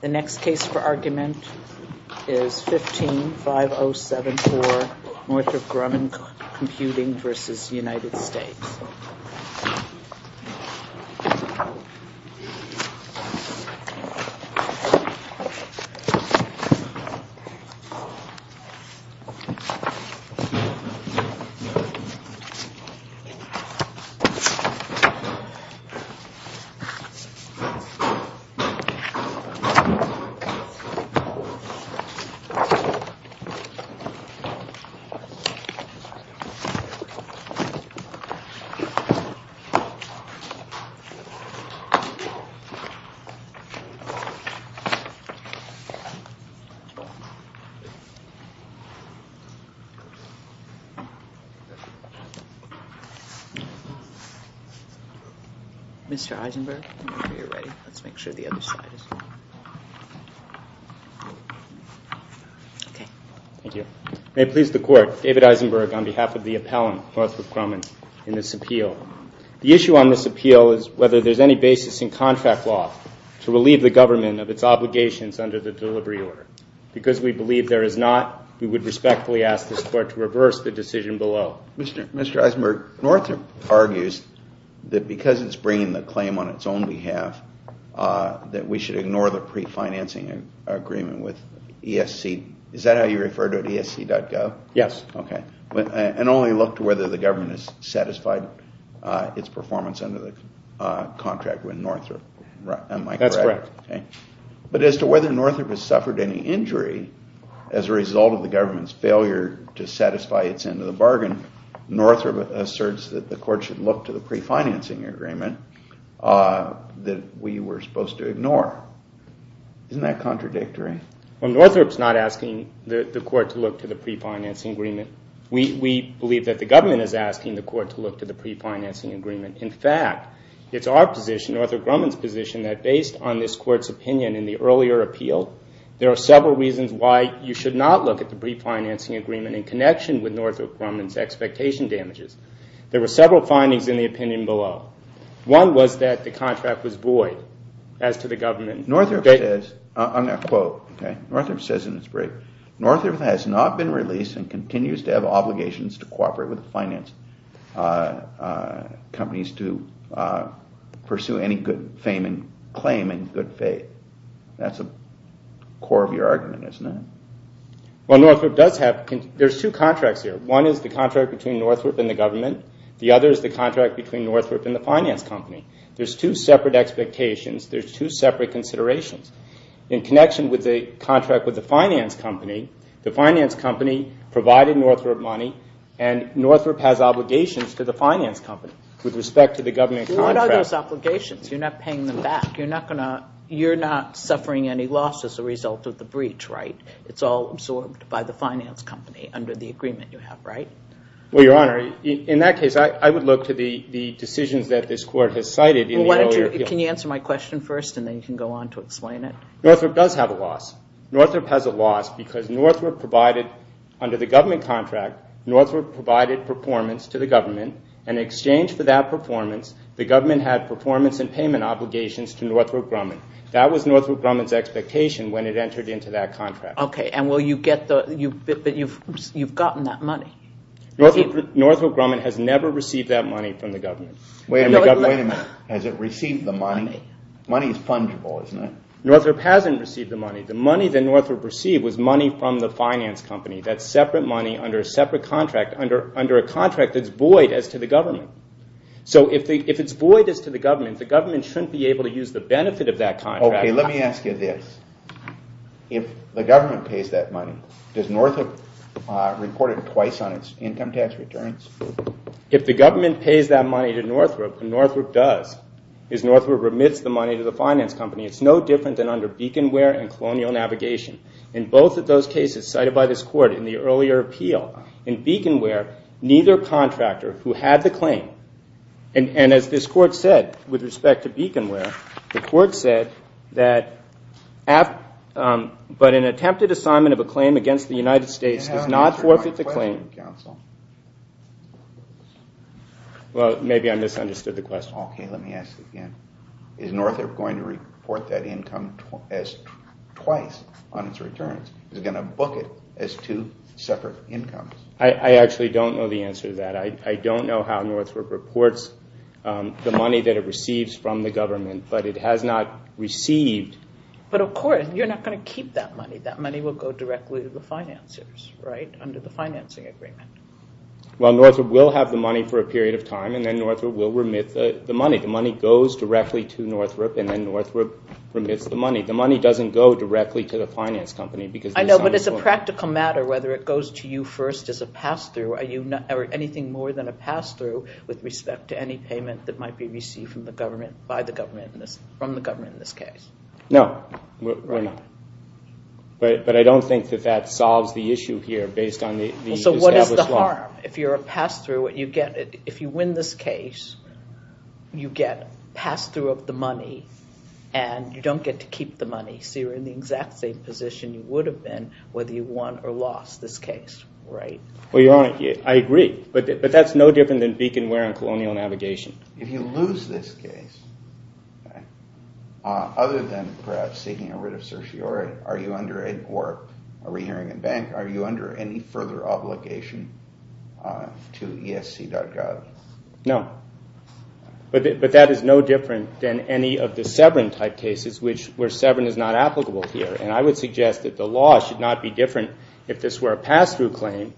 The next case for argument is 15-5074 Northrop Grumman Computing v. United States. This case is 15-5074 Northrop Grumman Computing v. United States. Mr. Eisenberg, I'm sure you're ready. Let's make sure the other side is on. Okay. Thank you. May it please the Court, David Eisenberg on behalf of the appellant, Northrop Grumman, in this appeal. The issue on this appeal is whether there's any basis in contract law to relieve the government of its obligations under the delivery order. Because we believe there is not, we would respectfully ask this Court to reverse the decision below. Well, Mr. Eisenberg, Northrop argues that because it's bringing the claim on its own behalf that we should ignore the pre-financing agreement with ESC. Is that how you refer to it, esc.gov? Yes. Okay. And only look to whether the government has satisfied its performance under the contract with Northrop. Am I correct? That's correct. But as to whether Northrop has suffered any injury as a result of the government's failure to satisfy its end of the bargain, Northrop asserts that the Court should look to the pre-financing agreement that we were supposed to ignore. Isn't that contradictory? Well, Northrop's not asking the Court to look to the pre-financing agreement. We believe that the government is asking the Court to look to the pre-financing agreement. In fact, it's our position, Northrop Grumman's position, that based on this Court's opinion in the earlier appeal, there are several reasons why you should not look at the pre-financing agreement in connection with Northrop Grumman's expectation damages. There were several findings in the opinion below. One was that the contract was void as to the government. Northrop says in his brief, Northrop has not been released and continues to have obligations to cooperate with the finance companies to pursue any good claim in good faith. That's the core of your argument, isn't it? Well, Northrop does have – there's two contracts here. One is the contract between Northrop and the government. The other is the contract between Northrop and the finance company. There's two separate expectations. There's two separate considerations. In connection with the contract with the finance company, the finance company provided Northrop money and Northrop has obligations to the finance company with respect to the government contract. What are those obligations? You're not paying them back. You're not going to – you're not suffering any loss as a result of the breach, right? It's all absorbed by the finance company under the agreement you have, right? Well, Your Honor, in that case, I would look to the decisions that this Court has cited in the earlier appeal. Can you answer my question first and then you can go on to explain it? Northrop does have a loss. Northrop has a loss because Northrop provided – under the government contract, Northrop provided performance to the government and in exchange for that performance, the government had performance and payment obligations to Northrop Grumman. That was Northrop Grumman's expectation when it entered into that contract. Okay. And will you get the – but you've gotten that money. Northrop Grumman has never received that money from the government. Wait a minute. Wait a minute. Has it received the money? Money is fungible, isn't it? Northrop hasn't received the money. The money that Northrop received was money from the finance company. That's separate money under a separate contract, under a contract that's void as to the government. So if it's void as to the government, the government shouldn't be able to use the benefit of that contract. Okay. Let me ask you this. If the government pays that money, does Northrop report it twice on its income tax returns? If the government pays that money to Northrop, and Northrop does, is Northrop remits the money to the finance company. It's no different than under Beaconware and Colonial Navigation. In both of those cases cited by this Court in the earlier appeal, in Beaconware, neither contractor who had the claim – and as this Court said with respect to Beaconware, the Court said that – but an attempted assignment of a claim against the United States does not forfeit the claim. Well, maybe I misunderstood the question. Okay. Let me ask you again. Is Northrop going to report that income twice on its returns? Is it going to book it as two separate incomes? I actually don't know the answer to that. I don't know how Northrop reports the money that it receives from the government, but it has not received – But of course, you're not going to keep that money. That money will go directly to the financiers, right, under the financing agreement. Well, Northrop will have the money for a period of time, and then Northrop will remit the money. The money goes directly to Northrop, and then Northrop remits the money. The money doesn't go directly to the finance company because – I know, but it's a practical matter whether it goes to you first as a pass-through, or anything more than a pass-through with respect to any payment that might be received by the government in this – from the government in this case. No, we're not. But I don't think that that solves the issue here based on the established law. So what is the harm if you're a pass-through? If you win this case, you get pass-through of the money, and you don't get to keep the money. So you're in the exact same position you would have been whether you won or lost this case, right? Well, Your Honor, I agree. But that's no different than beacon wear on colonial navigation. If you lose this case, other than perhaps seeking a writ of certiorari, or a re-hearing in bank, are you under any further obligation to esc.gov? No. But that is no different than any of the severance-type cases where severance is not applicable here. And I would suggest that the law should not be different if this were a pass-through claim.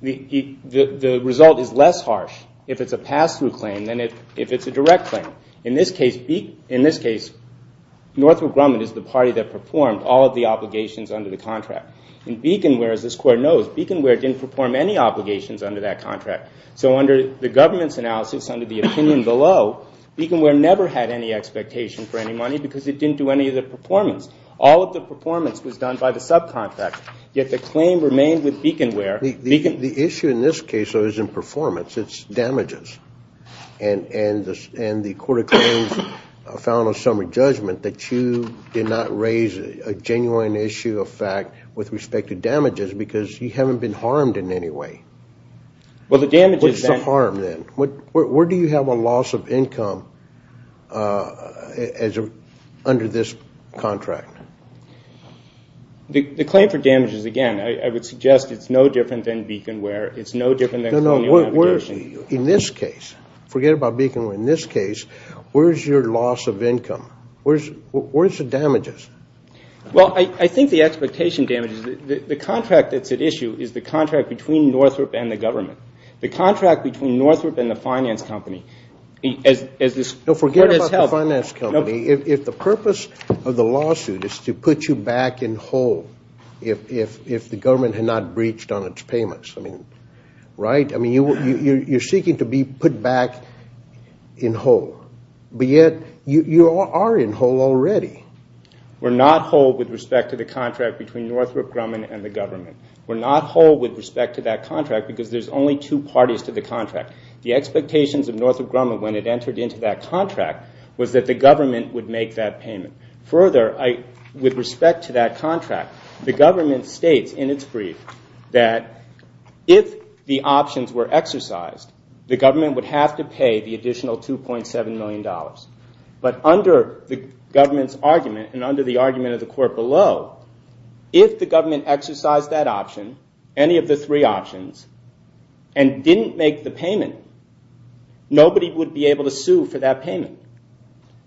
The result is less harsh. If it's a pass-through claim than if it's a direct claim. In this case, Northrop Grumman is the party that performed all of the obligations under the contract. In beacon wear, as this Court knows, beacon wear didn't perform any obligations under that contract. So under the government's analysis, under the opinion below, beacon wear never had any expectation for any money because it didn't do any of the performance. All of the performance was done by the subcontract. Yet the claim remained with beacon wear. The issue in this case, though, isn't performance. It's damages. And the Court of Claims found on summary judgment that you did not raise a genuine issue of fact with respect to damages because you haven't been harmed in any way. What is the harm then? Where do you have a loss of income under this contract? The claim for damages, again, I would suggest it's no different than beacon wear. It's no different than colonial habitation. No, no. In this case, forget about beacon wear. In this case, where's your loss of income? Where's the damages? Well, I think the expectation damages, the contract that's at issue is the contract between Northrop and the government. The contract between Northrop and the finance company, as this Court has held. If the purpose of the lawsuit is to put you back in whole if the government had not breached on its payments, right? I mean, you're seeking to be put back in whole, but yet you are in whole already. We're not whole with respect to the contract between Northrop Grumman and the government. We're not whole with respect to that contract because there's only two parties to the contract. The expectations of Northrop Grumman when it entered into that contract was that the government would make that payment. Further, with respect to that contract, the government states in its brief that if the options were exercised, the government would have to pay the additional $2.7 million. But under the government's argument and under the argument of the Court below, if the government exercised that option, any of the three options, and didn't make the payment, nobody would be able to sue for that payment.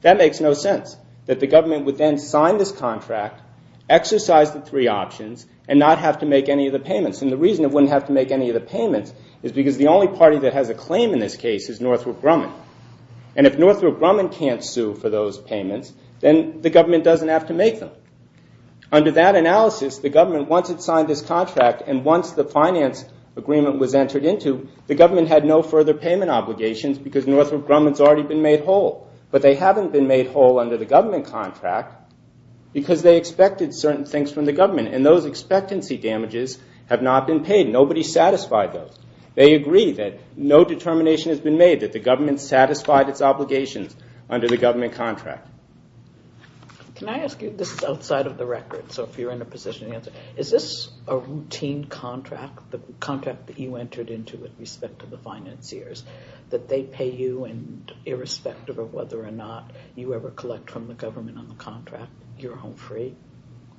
That makes no sense, that the government would then sign this contract, exercise the three options, and not have to make any of the payments. And the reason it wouldn't have to make any of the payments is because the only party that has a claim in this case is Northrop Grumman. And if Northrop Grumman can't sue for those payments, then the government doesn't have to make them. Under that analysis, the government, once it signed this contract, and once the finance agreement was entered into, the government had no further payment obligations because Northrop Grumman's already been made whole. But they haven't been made whole under the government contract because they expected certain things from the government. And those expectancy damages have not been paid. Nobody satisfied those. They agree that no determination has been made that the government satisfied its obligations under the government contract. Can I ask you, this is outside of the record, so if you're in a position to answer, is this a routine contract, the contract that you entered into with respect to the financiers, that they pay you and irrespective of whether or not you ever collect from the government on the contract, you're home free?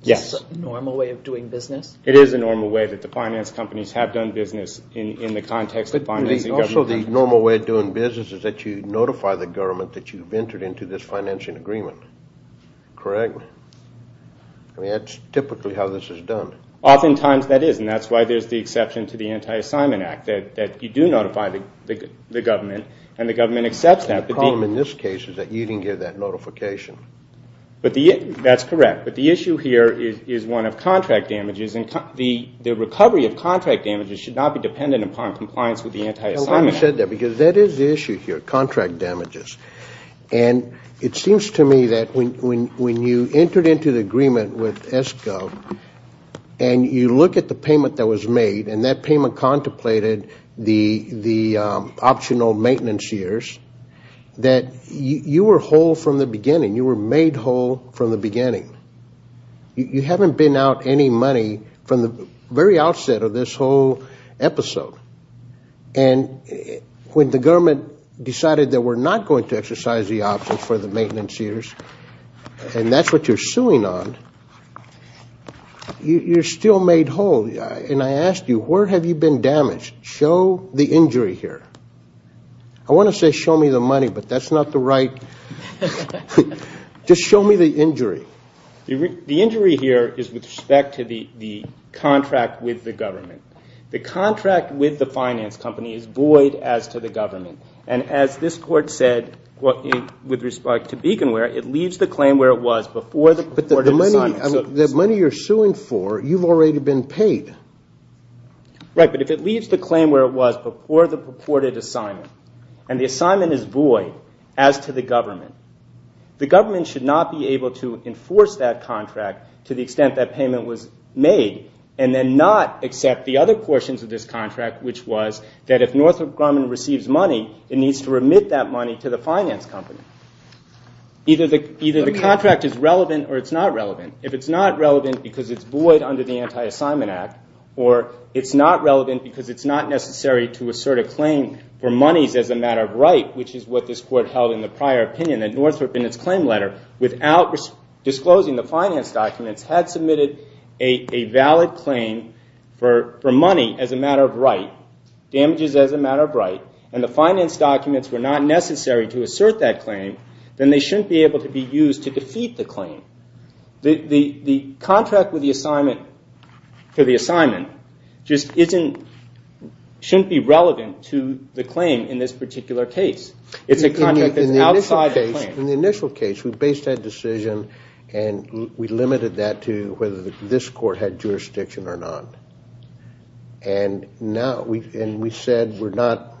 Yes. Is this a normal way of doing business? It is a normal way that the finance companies have done business in the context of financing government. The normal way of doing business is that you notify the government that you've entered into this financial agreement, correct? I mean, that's typically how this is done. Oftentimes that is, and that's why there's the exception to the Anti-Assignment Act, that you do notify the government and the government accepts that. The problem in this case is that you didn't give that notification. That's correct, but the issue here is one of contract damages, and the recovery of contract damages should not be dependent upon compliance with the Anti-Assignment Act. I'm glad you said that because that is the issue here, contract damages. And it seems to me that when you entered into the agreement with S-Gov and you look at the payment that was made and that payment contemplated the optional maintenance years, that you were whole from the beginning. You were made whole from the beginning. You haven't been out any money from the very outset of this whole episode. And when the government decided that we're not going to exercise the option for the maintenance years, and that's what you're suing on, you're still made whole. And I ask you, where have you been damaged? Show the injury here. I want to say show me the money, but that's not the right. Just show me the injury. The injury here is with respect to the contract with the government. The contract with the finance company is void as to the government. And as this Court said with respect to Beaconware, it leaves the claim where it was before the purported assignment. But the money you're suing for, you've already been paid. Right, but if it leaves the claim where it was before the purported assignment, and the assignment is void as to the government, the government should not be able to enforce that contract to the extent that payment was made and then not accept the other portions of this contract, which was that if Northrop Grumman receives money, it needs to remit that money to the finance company. Either the contract is relevant or it's not relevant. If it's not relevant because it's void under the Anti-Assignment Act, or it's not relevant because it's not necessary to assert a claim for monies as a matter of right, which is what this Court held in the prior opinion that Northrop in its claim letter, without disclosing the finance documents, had submitted a valid claim for money as a matter of right, damages as a matter of right, and the finance documents were not necessary to assert that claim, then they shouldn't be able to be used to defeat the claim. The contract for the assignment just shouldn't be relevant to the claim in this particular case. In the initial case, we based that decision and we limited that to whether this Court had jurisdiction or not, and we said we're not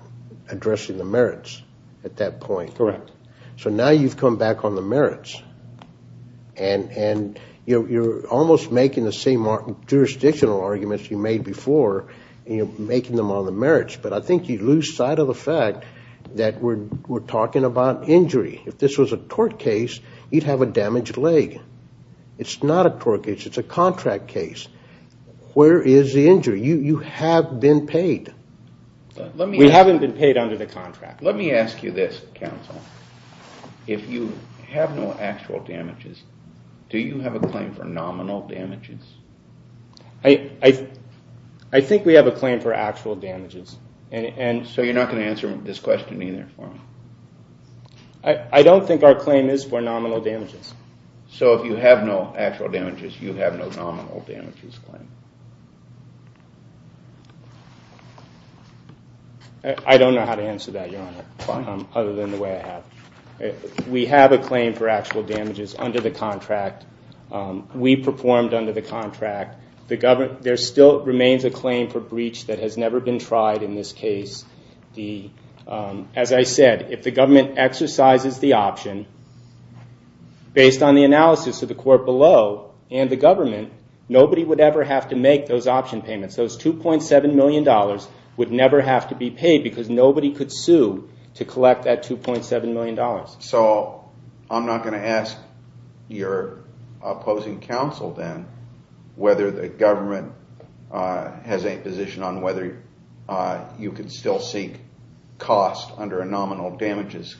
addressing the merits at that point. So now you've come back on the merits, and you're almost making the same jurisdictional arguments you made before, making them on the merits, but I think you lose sight of the fact that we're talking about injury. If this was a tort case, you'd have a damaged leg. It's not a tort case, it's a contract case. Where is the injury? You have been paid. We haven't been paid under the contract. Let me ask you this, counsel. If you have no actual damages, do you have a claim for nominal damages? I think we have a claim for actual damages. So you're not going to answer this question either for me? I don't think our claim is for nominal damages. So if you have no actual damages, you have no nominal damages claim? I don't know how to answer that, Your Honor, other than the way I have. We have a claim for actual damages under the contract. We performed under the contract. There still remains a claim for breach that has never been tried in this case. As I said, if the government exercises the option, based on the analysis of the court below and the government, nobody would ever have to make those option payments. Those $2.7 million would never have to be paid because nobody could sue to collect that $2.7 million. So I'm not going to ask your opposing counsel then whether the government has a position on whether you could still seek cost under a nominal damages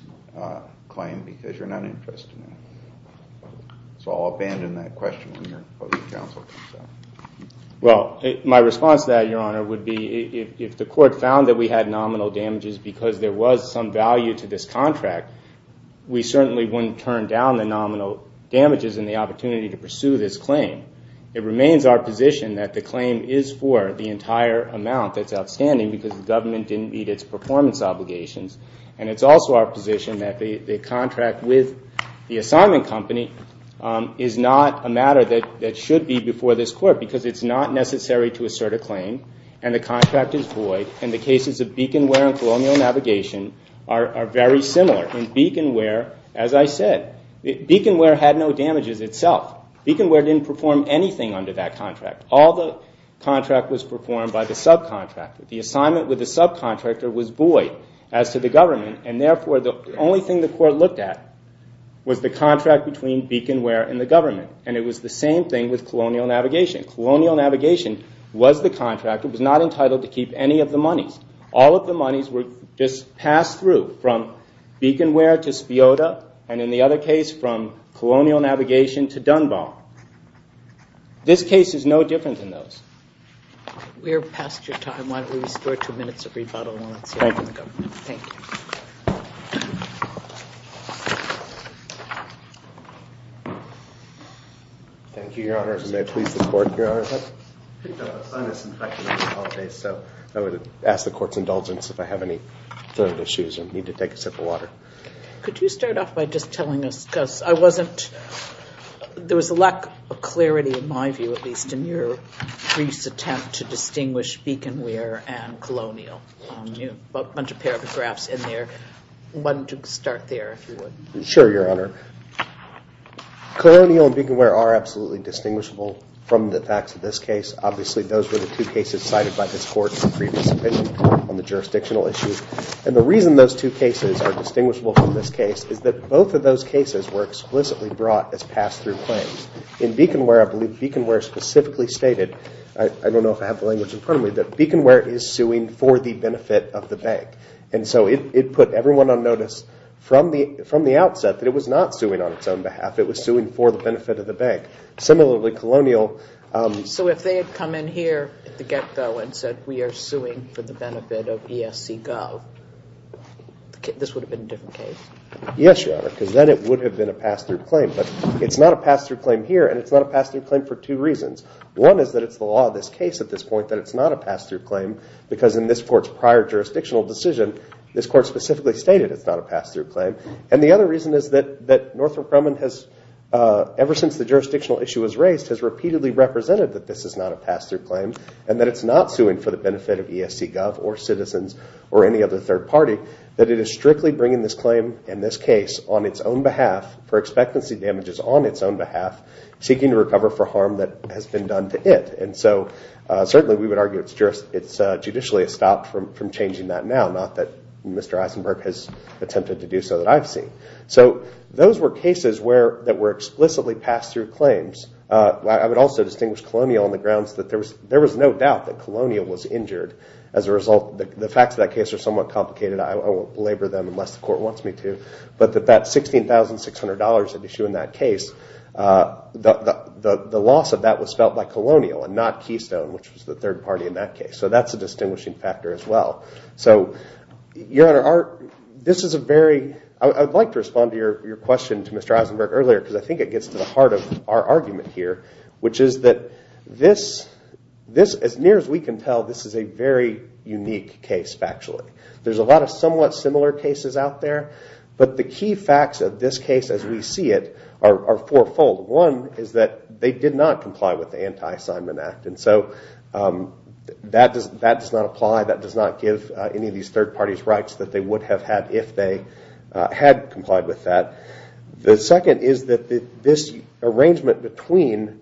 claim because you're not interested in that. So I'll abandon that question on your opposing counsel. Well, my response to that, Your Honor, would be if the court found that we had nominal damages because there was some value to this contract, we certainly wouldn't turn down the nominal damages and the opportunity to pursue this claim. It remains our position that the claim is for the entire amount that's outstanding because the government didn't meet its performance obligations. And it's also our position that the contract with the assignment company is not a matter that should be before this court because it's not necessary to assert a claim and the contract is void and the cases of Beaconware and Colonial Navigation are very similar. In Beaconware, as I said, Beaconware had no damages itself. Beaconware didn't perform anything under that contract. All the contract was performed by the subcontractor. The assignment with the subcontractor was void as to the government and therefore the only thing the court looked at was the contract between Beaconware and the government and it was the same thing with Colonial Navigation. Colonial Navigation was the contract. It was not entitled to keep any of the monies. All of the monies were just passed through from Beaconware to Spiota and in the other case from Colonial Navigation to Dunbar. This case is no different than those. We're past your time. Why don't we restore two minutes of rebuttal and let's hear from the government. Thank you. Thank you, Your Honor. May it please the court, Your Honor. I'm disinfectant, I apologize. So I would ask the court's indulgence if I have any further issues or need to take a sip of water. Could you start off by just telling us, because I wasn't, there was a lack of clarity in my view, at least, in your brief's attempt to distinguish Beaconware and Colonial. You have a bunch of paragraphs in there. Why don't you start there, if you would. Sure, Your Honor. Colonial and Beaconware are absolutely distinguishable from the facts of this case. Obviously, those were the two cases cited by this court in the previous opinion on the jurisdictional issue. And the reason those two cases are distinguishable from this case is that both of those cases were explicitly brought as pass-through claims. In Beaconware, I believe Beaconware specifically stated, I don't know if I have the language in front of me, that Beaconware is suing for the benefit of the bank. And so it put everyone on notice from the outset that it was not suing on its own behalf. It was suing for the benefit of the bank. Similarly, Colonial. So if they had come in here at the get-go and said, we are suing for the benefit of ESCGov, this would have been a different case? Yes, Your Honor, because then it would have been a pass-through claim. But it's not a pass-through claim here, and it's not a pass-through claim for two reasons. One is that it's the law of this case at this point that it's not a pass-through claim, because in this court's prior jurisdictional decision, this court specifically stated it's not a pass-through claim. And the other reason is that Northrop Grumman has, ever since the jurisdictional issue was raised, has repeatedly represented that this is not a pass-through claim and that it's not suing for the benefit of ESCGov or citizens or any other third party, that it is strictly bringing this claim in this case on its own behalf for expectancy damages on its own behalf, seeking to recover for harm that has been done to it. And so certainly we would argue it's judicially stopped from changing that now, not that Mr. Eisenberg has attempted to do so that I've seen. So those were cases that were explicitly pass-through claims. I would also distinguish Colonial on the grounds that there was no doubt that Colonial was injured. As a result, the facts of that case are somewhat complicated. I won't belabor them unless the court wants me to. But that $16,600 at issue in that case, the loss of that was felt by Colonial and not Keystone, which was the third party in that case. So that's a distinguishing factor as well. So, Your Honor, this is a very – I would like to respond to your question to Mr. Eisenberg earlier, because I think it gets to the heart of our argument here, which is that this, as near as we can tell, this is a very unique case factually. There's a lot of somewhat similar cases out there, but the key facts of this case as we see it are fourfold. One is that they did not comply with the Anti-Simon Act, and so that does not apply, that does not give any of these third parties rights that they would have had if they had complied with that. The second is that this arrangement between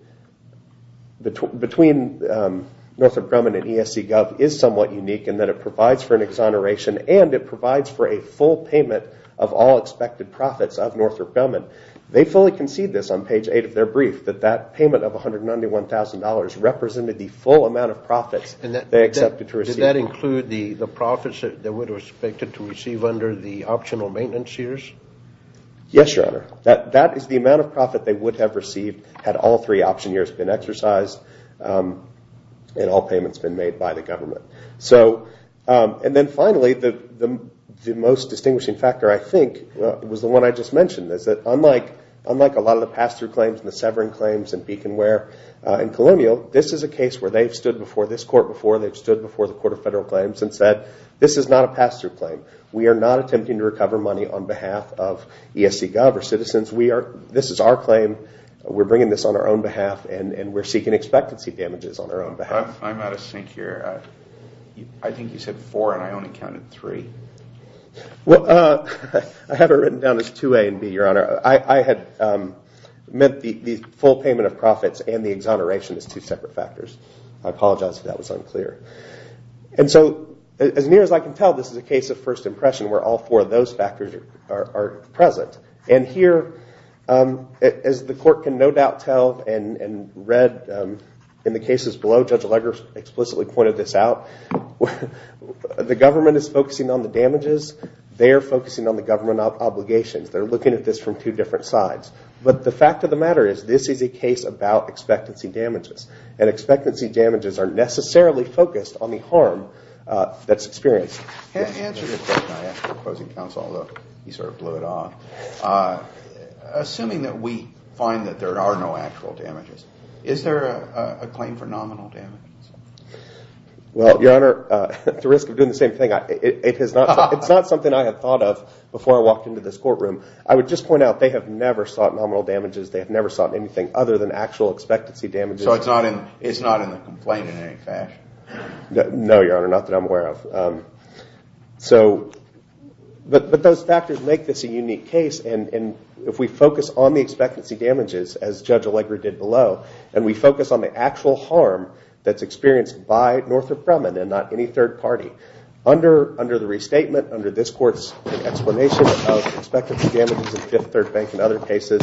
Northrop Grumman and ESCGov is somewhat unique in that it provides for an exoneration, and it provides for a full payment of all expected profits of Northrop Grumman. They fully concede this on page 8 of their brief, that that payment of $191,000 represented the full amount of profits they accepted to receive. Does that include the profits that they would have expected to receive under the optional maintenance years? Yes, Your Honor. That is the amount of profit they would have received had all three option years been exercised and all payments been made by the government. And then finally, the most distinguishing factor, I think, was the one I just mentioned, is that unlike a lot of the pass-through claims and the severing claims and beacon wear in Columbia, this is a case where they've stood before this Court before, they've stood before the Court of Federal Claims and said, this is not a pass-through claim. We are not attempting to recover money on behalf of ESCGov or citizens. This is our claim. We're bringing this on our own behalf, and we're seeking expectancy damages on our own behalf. I'm out of sync here. I think you said four, and I only counted three. Well, I have it written down as 2A and B, Your Honor. I had meant the full payment of profits and the exoneration as two separate factors. I apologize if that was unclear. And so as near as I can tell, this is a case of first impression where all four of those factors are present. And here, as the Court can no doubt tell and read in the cases below, Judge Leger explicitly pointed this out, the government is focusing on the damages. They're focusing on the government obligations. They're looking at this from two different sides. But the fact of the matter is this is a case about expectancy damages, and expectancy damages are necessarily focused on the harm that's experienced. Answer this question I asked the opposing counsel, although he sort of blew it off. Assuming that we find that there are no actual damages, is there a claim for nominal damages? Well, Your Honor, at the risk of doing the same thing, it's not something I had thought of before I walked into this courtroom. I would just point out they have never sought nominal damages. They have never sought anything other than actual expectancy damages. So it's not in the complaint in any fashion? No, Your Honor, not that I'm aware of. But those factors make this a unique case. And if we focus on the expectancy damages, as Judge Leger did below, and we focus on the actual harm that's experienced by Northrop Grumman and not any third party, under the restatement, under this Court's explanation of expectancy damages in Fifth Third Bank and other cases,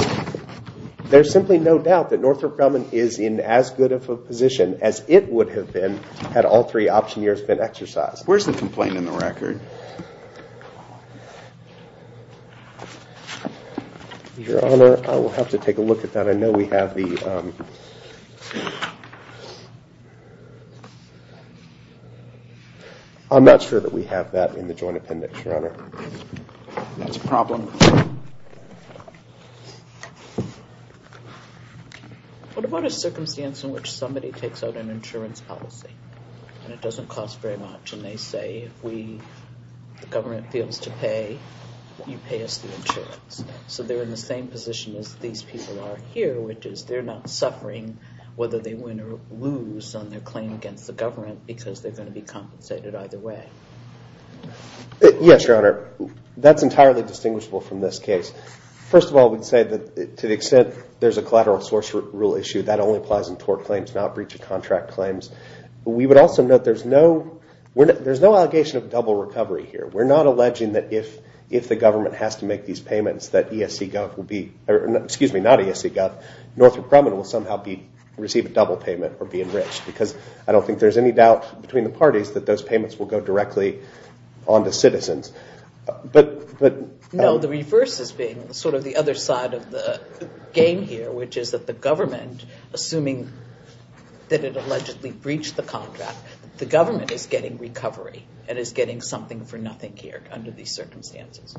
there's simply no doubt that Northrop Grumman is in as good of a position as it would have been had all three option years been exercised. Where's the complaint in the record? Your Honor, I will have to take a look at that. I know we have the... I'm not sure that we have that in the joint appendix, Your Honor. That's a problem. What about a circumstance in which somebody takes out an insurance policy and it doesn't cost very much, and they say, if the government feels to pay, you pay us the insurance. So they're in the same position as these people are here, which is they're not suffering whether they win or lose on their claim against the government because they're going to be compensated either way. Yes, Your Honor. That's entirely distinguishable from this case. First of all, we'd say that to the extent there's a collateral source rule issue, that only applies in tort claims, not breach of contract claims. We would also note there's no... There's no allegation of double recovery here. We're not alleging that if the government has to make these payments, that ESCGov will be... Excuse me, not ESCGov. Northrop Grumman will somehow receive a double payment or be enriched because I don't think there's any doubt between the parties that those payments will go directly on to citizens. No, the reverse is being sort of the other side of the game here, which is that the government, assuming that it allegedly breached the contract, the government is getting recovery and is getting something for nothing here under these circumstances.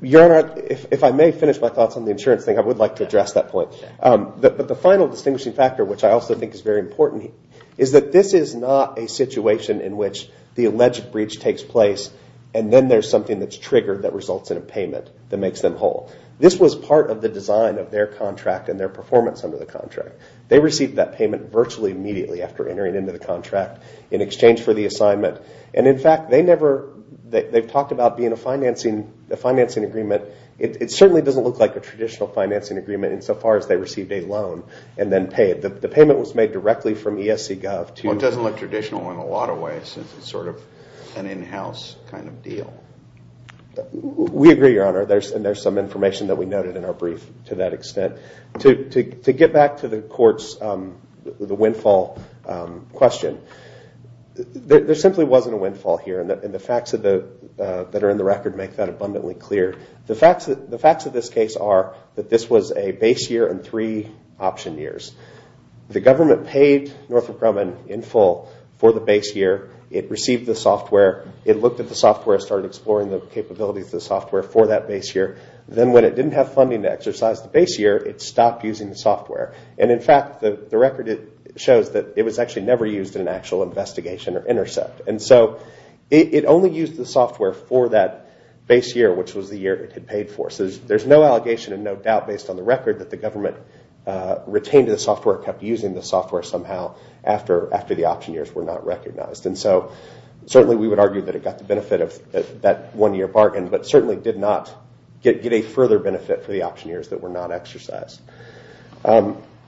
Your Honor, if I may finish my thoughts on the insurance thing, I would like to address that point. But the final distinguishing factor, which I also think is very important, is that this is not a situation in which the alleged breach takes place and then there's something that's triggered that results in a payment that makes them whole. This was part of the design of their contract and their performance under the contract. They received that payment virtually immediately after entering into the contract in exchange for the assignment. And in fact, they've talked about being a financing agreement. It certainly doesn't look like a traditional financing agreement insofar as they received a loan and then paid. The payment was made directly from ESCGov to... Well, it doesn't look traditional in a lot of ways since it's sort of an in-house kind of deal. We agree, Your Honor, and there's some information that we noted in our brief to that extent. To get back to the court's windfall question, there simply wasn't a windfall here, and the facts that are in the record make that abundantly clear. The facts of this case are that this was a base year and three option years. The government paid Northrop Grumman in full for the base year. It received the software. It looked at the software and started exploring the capabilities of the software for that base year. Then when it didn't have funding to exercise the base year, it stopped using the software. And in fact, the record shows that it was actually never used in an actual investigation or intercept. And so it only used the software for that base year, which was the year it had paid for. So there's no allegation and no doubt based on the record that the government retained the software, kept using the software somehow, after the option years were not recognized. And so certainly we would argue that it got the benefit of that one-year bargain, but certainly did not get a further benefit for the option years that were not exercised.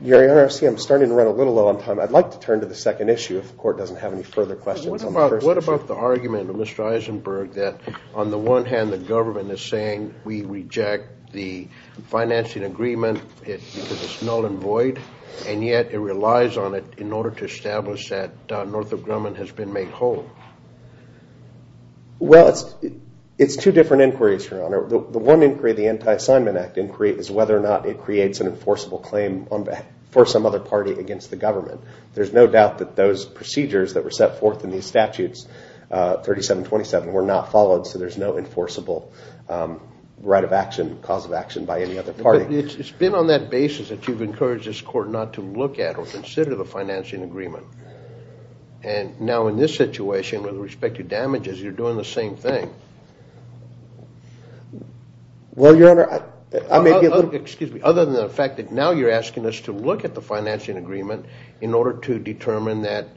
Your Honor, I see I'm starting to run a little low on time. I'd like to turn to the second issue if the court doesn't have any further questions. What about the argument of Mr. Eisenberg that, on the one hand, the government is saying we reject the financing agreement because it's null and void, and yet it relies on it in order to establish that Northrop Grumman has been made whole? Well, it's two different inquiries, Your Honor. The one inquiry, the Anti-Assignment Act inquiry, is whether or not it creates an enforceable claim for some other party against the government. There's no doubt that those procedures that were set forth in these statutes, 3727, were not followed, so there's no enforceable right of action, cause of action by any other party. But it's been on that basis that you've encouraged this court not to look at or consider the financing agreement. And now in this situation, with respect to damages, you're doing the same thing. Well, Your Honor, I may be a little... Excuse me. Other than the fact that now you're asking us to look at the financing agreement in order to determine that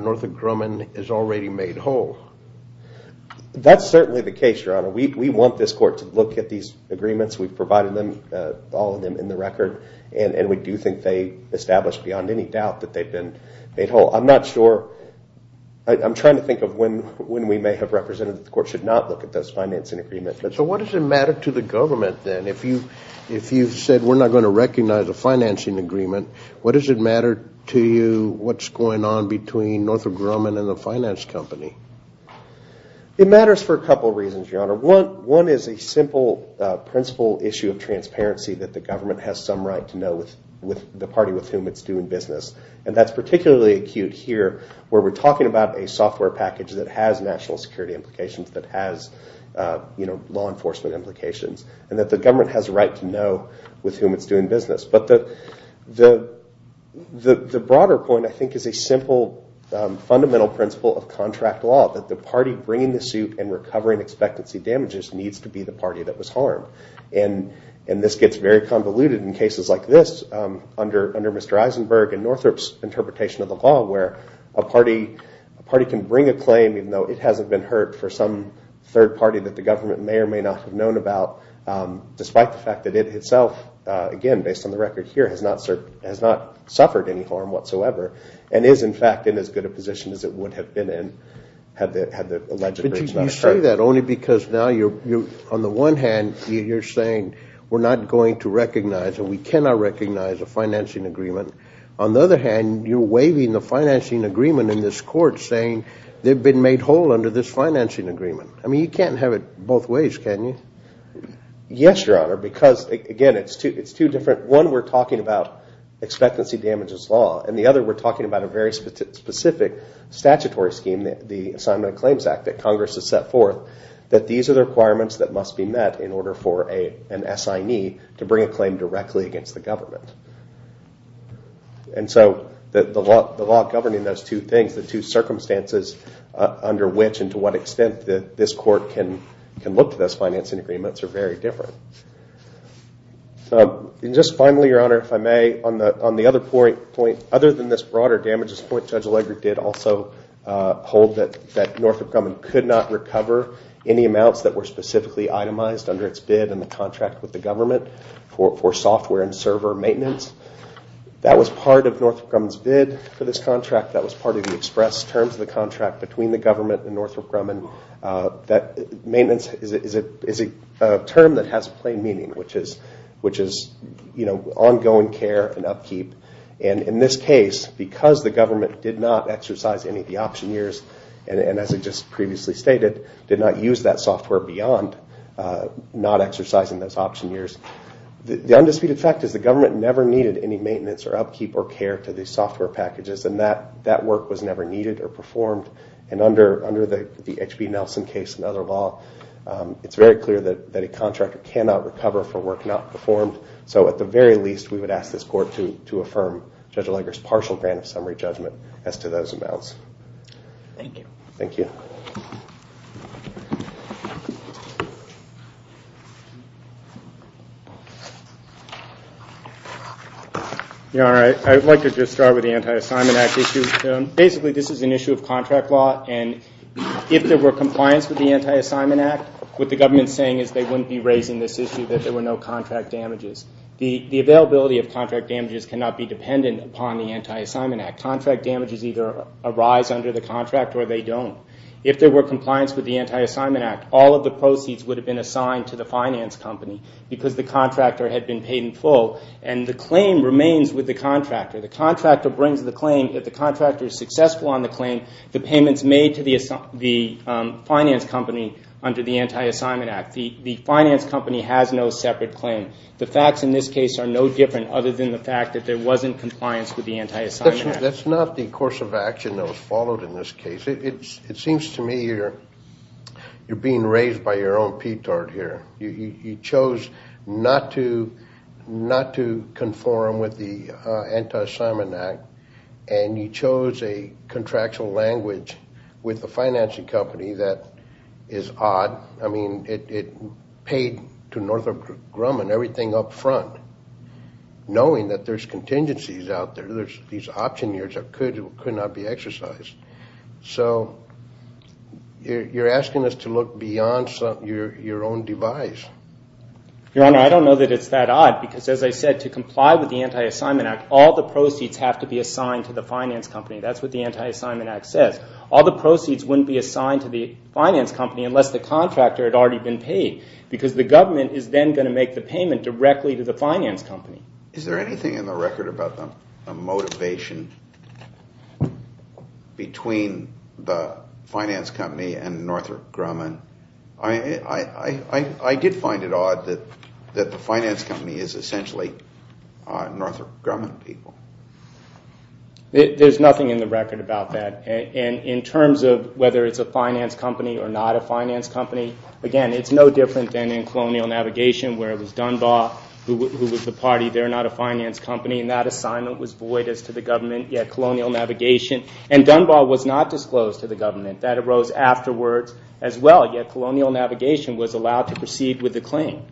Northrop Grumman is already made whole. That's certainly the case, Your Honor. We want this court to look at these agreements. We've provided them, all of them, in the record, and we do think they establish beyond any doubt that they've been made whole. I'm not sure... I'm trying to think of when we may have represented that the court should not look at this financing agreement. So what does it matter to the government, then? If you've said we're not going to recognize a financing agreement, what does it matter to you what's going on between Northrop Grumman and the finance company? It matters for a couple of reasons, Your Honor. One is a simple principle issue of transparency that the government has some right to know with the party with whom it's doing business. And that's particularly acute here where we're talking about a software package that has national security implications, that has law enforcement implications, and that the government has a right to know with whom it's doing business. But the broader point, I think, is a simple fundamental principle of contract law that the party bringing the suit and recovering expectancy damages needs to be the party that was harmed. And this gets very convoluted in cases like this under Mr. Eisenberg and Northrop's interpretation of the law, where a party can bring a claim even though it hasn't been heard for some third party that the government may or may not have known about, despite the fact that it itself, again, based on the record here, has not suffered any harm whatsoever and is, in fact, in as good a position as it would have been in had the alleged breach not occurred. But you say that only because now you're, on the one hand, you're saying we're not going to recognize and we cannot recognize a financing agreement. On the other hand, you're waiving the financing agreement in this court saying they've been made whole under this financing agreement. I mean, you can't have it both ways, can you? Yes, Your Honor, because, again, it's two different. One, we're talking about expectancy damages law, and the other we're talking about a very specific statutory scheme, the Assignment of Claims Act that Congress has set forth, that these are the requirements that must be met in order for an SIE to bring a claim directly against the government. And so the law governing those two things, the two circumstances under which and to what extent this court can look to those financing agreements, are very different. And just finally, Your Honor, if I may, on the other point, other than this broader damages point, Judge Allegre did also hold that Northrop Grumman could not recover any amounts that were specifically itemized under its bid in the contract with the government for software and server maintenance. That was part of Northrop Grumman's bid for this contract. That was part of the express terms of the contract between the government and Northrop Grumman. Maintenance is a term that has plain meaning, which is ongoing care and upkeep. And in this case, because the government did not exercise any of the option years, and as I just previously stated, did not use that software beyond not exercising those option years, the undisputed fact is the government never needed any maintenance or upkeep or care to these software packages, and that work was never needed or performed. And under the H.B. Nelson case and other law, it's very clear that a contractor cannot recover for work not performed, so at the very least, we would ask this court to affirm Judge Allegre's partial grant of summary judgment as to those amounts. Thank you. Thank you. All right. I'd like to just start with the Anti-Assignment Act issue. Basically, this is an issue of contract law, and if there were compliance with the Anti-Assignment Act, what the government is saying is they wouldn't be raising this issue that there were no contract damages. The availability of contract damages cannot be dependent upon the Anti-Assignment Act. Contract damages either arise under the contract or they don't. If there were compliance with the Anti-Assignment Act, all of the proceeds would have been assigned to the finance company because the contractor had been paid in full, and the claim remains with the contractor. The contractor brings the claim. If the contractor is successful on the claim, the payment is made to the finance company under the Anti-Assignment Act. The finance company has no separate claim. The facts in this case are no different other than the fact that there wasn't compliance with the Anti-Assignment Act. That's not the course of action that was followed in this case. It seems to me you're being raised by your own petard here. You chose not to conform with the Anti-Assignment Act, and you chose a contractual language with the financing company that is odd. I mean, it paid to Northrop Grumman everything up front, knowing that there's contingencies out there. These option years could not be exercised. So you're asking us to look beyond your own device. Your Honor, I don't know that it's that odd because, as I said, to comply with the Anti-Assignment Act, all the proceeds have to be assigned to the finance company. That's what the Anti-Assignment Act says. All the proceeds wouldn't be assigned to the finance company unless the contractor had already been paid because the government is then going to make the payment directly to the finance company. Is there anything in the record about the motivation between the finance company and Northrop Grumman? I did find it odd that the finance company is essentially Northrop Grumman people. There's nothing in the record about that. In terms of whether it's a finance company or not a finance company, again, it's no different than in Colonial Navigation where it was Dunbar who was the party. They're not a finance company, and that assignment was void as to the government, yet Colonial Navigation. And Dunbar was not disclosed to the government. That arose afterwards as well, yet Colonial Navigation was allowed to proceed with the claim.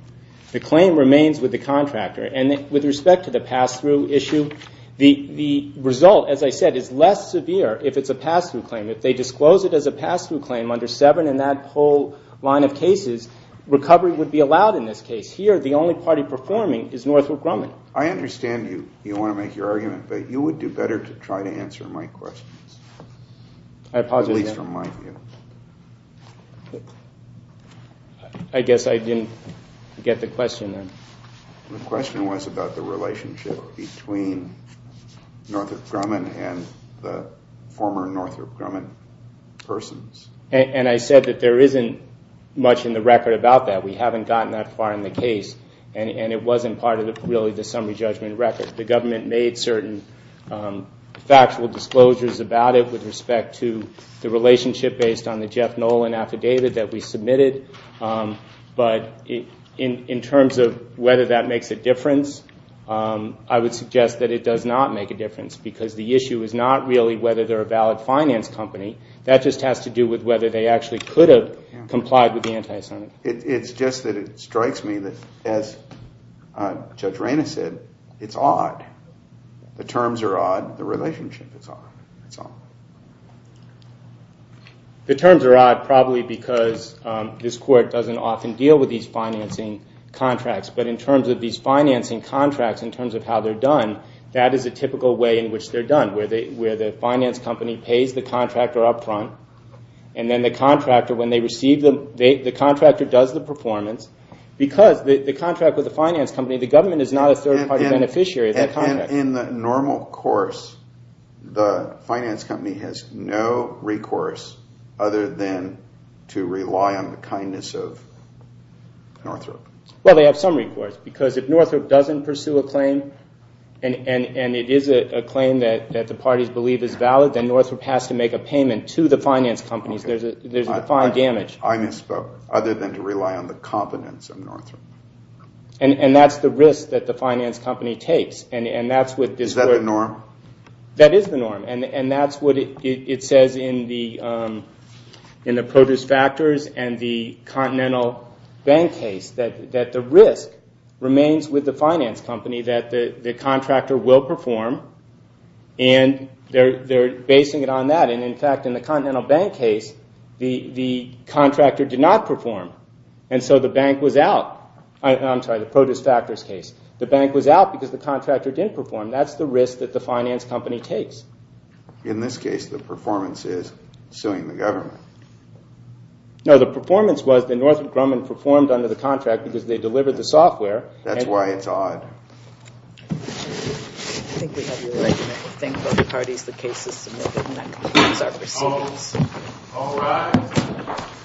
The claim remains with the contractor. And with respect to the pass-through issue, the result, as I said, is less severe if it's a pass-through claim. If they disclose it as a pass-through claim under 7 in that whole line of cases, recovery would be allowed in this case. Here, the only party performing is Northrop Grumman. I understand you want to make your argument, but you would do better to try to answer my questions. I apologize. At least from my view. I guess I didn't get the question then. The question was about the relationship between Northrop Grumman and the former Northrop Grumman persons. And I said that there isn't much in the record about that. We haven't gotten that far in the case, and it wasn't part of really the summary judgment record. The government made certain factual disclosures about it with respect to the relationship based on the Jeff Nolan affidavit that we submitted. But in terms of whether that makes a difference, I would suggest that it does not make a difference. Because the issue is not really whether they're a valid finance company. That just has to do with whether they actually could have complied with the anti-Senate. It's just that it strikes me that, as Judge Raina said, it's odd. The terms are odd. The relationship is odd. That's all. The terms are odd probably because this court doesn't often deal with these financing contracts. But in terms of these financing contracts, in terms of how they're done, that is a typical way in which they're done. Where the finance company pays the contractor up front. And then the contractor, when they receive them, the contractor does the performance. Because the contract with the finance company, the government is not a third-party beneficiary of that contract. In the normal course, the finance company has no recourse other than to rely on the kindness of Northrop. Well, they have some recourse. Because if Northrop doesn't pursue a claim, and it is a claim that the parties believe is valid, then Northrop has to make a payment to the finance companies. There's a defined damage. I misspoke. Other than to rely on the competence of Northrop. And that's the risk that the finance company takes. Is that the norm? That is the norm. And that's what it says in the Produce Factors and the Continental Bank case. That the risk remains with the finance company that the contractor will perform. And they're basing it on that. And, in fact, in the Continental Bank case, the contractor did not perform. And so the bank was out. I'm sorry, the Produce Factors case. The bank was out because the contractor didn't perform. That's the risk that the finance company takes. In this case, the performance is suing the government. No, the performance was that Northrop Grumman performed under the contract because they delivered the software. That's why it's odd. I think we have your right to make a thing for the parties. The case is submitted, and that concludes our proceedings. All rise.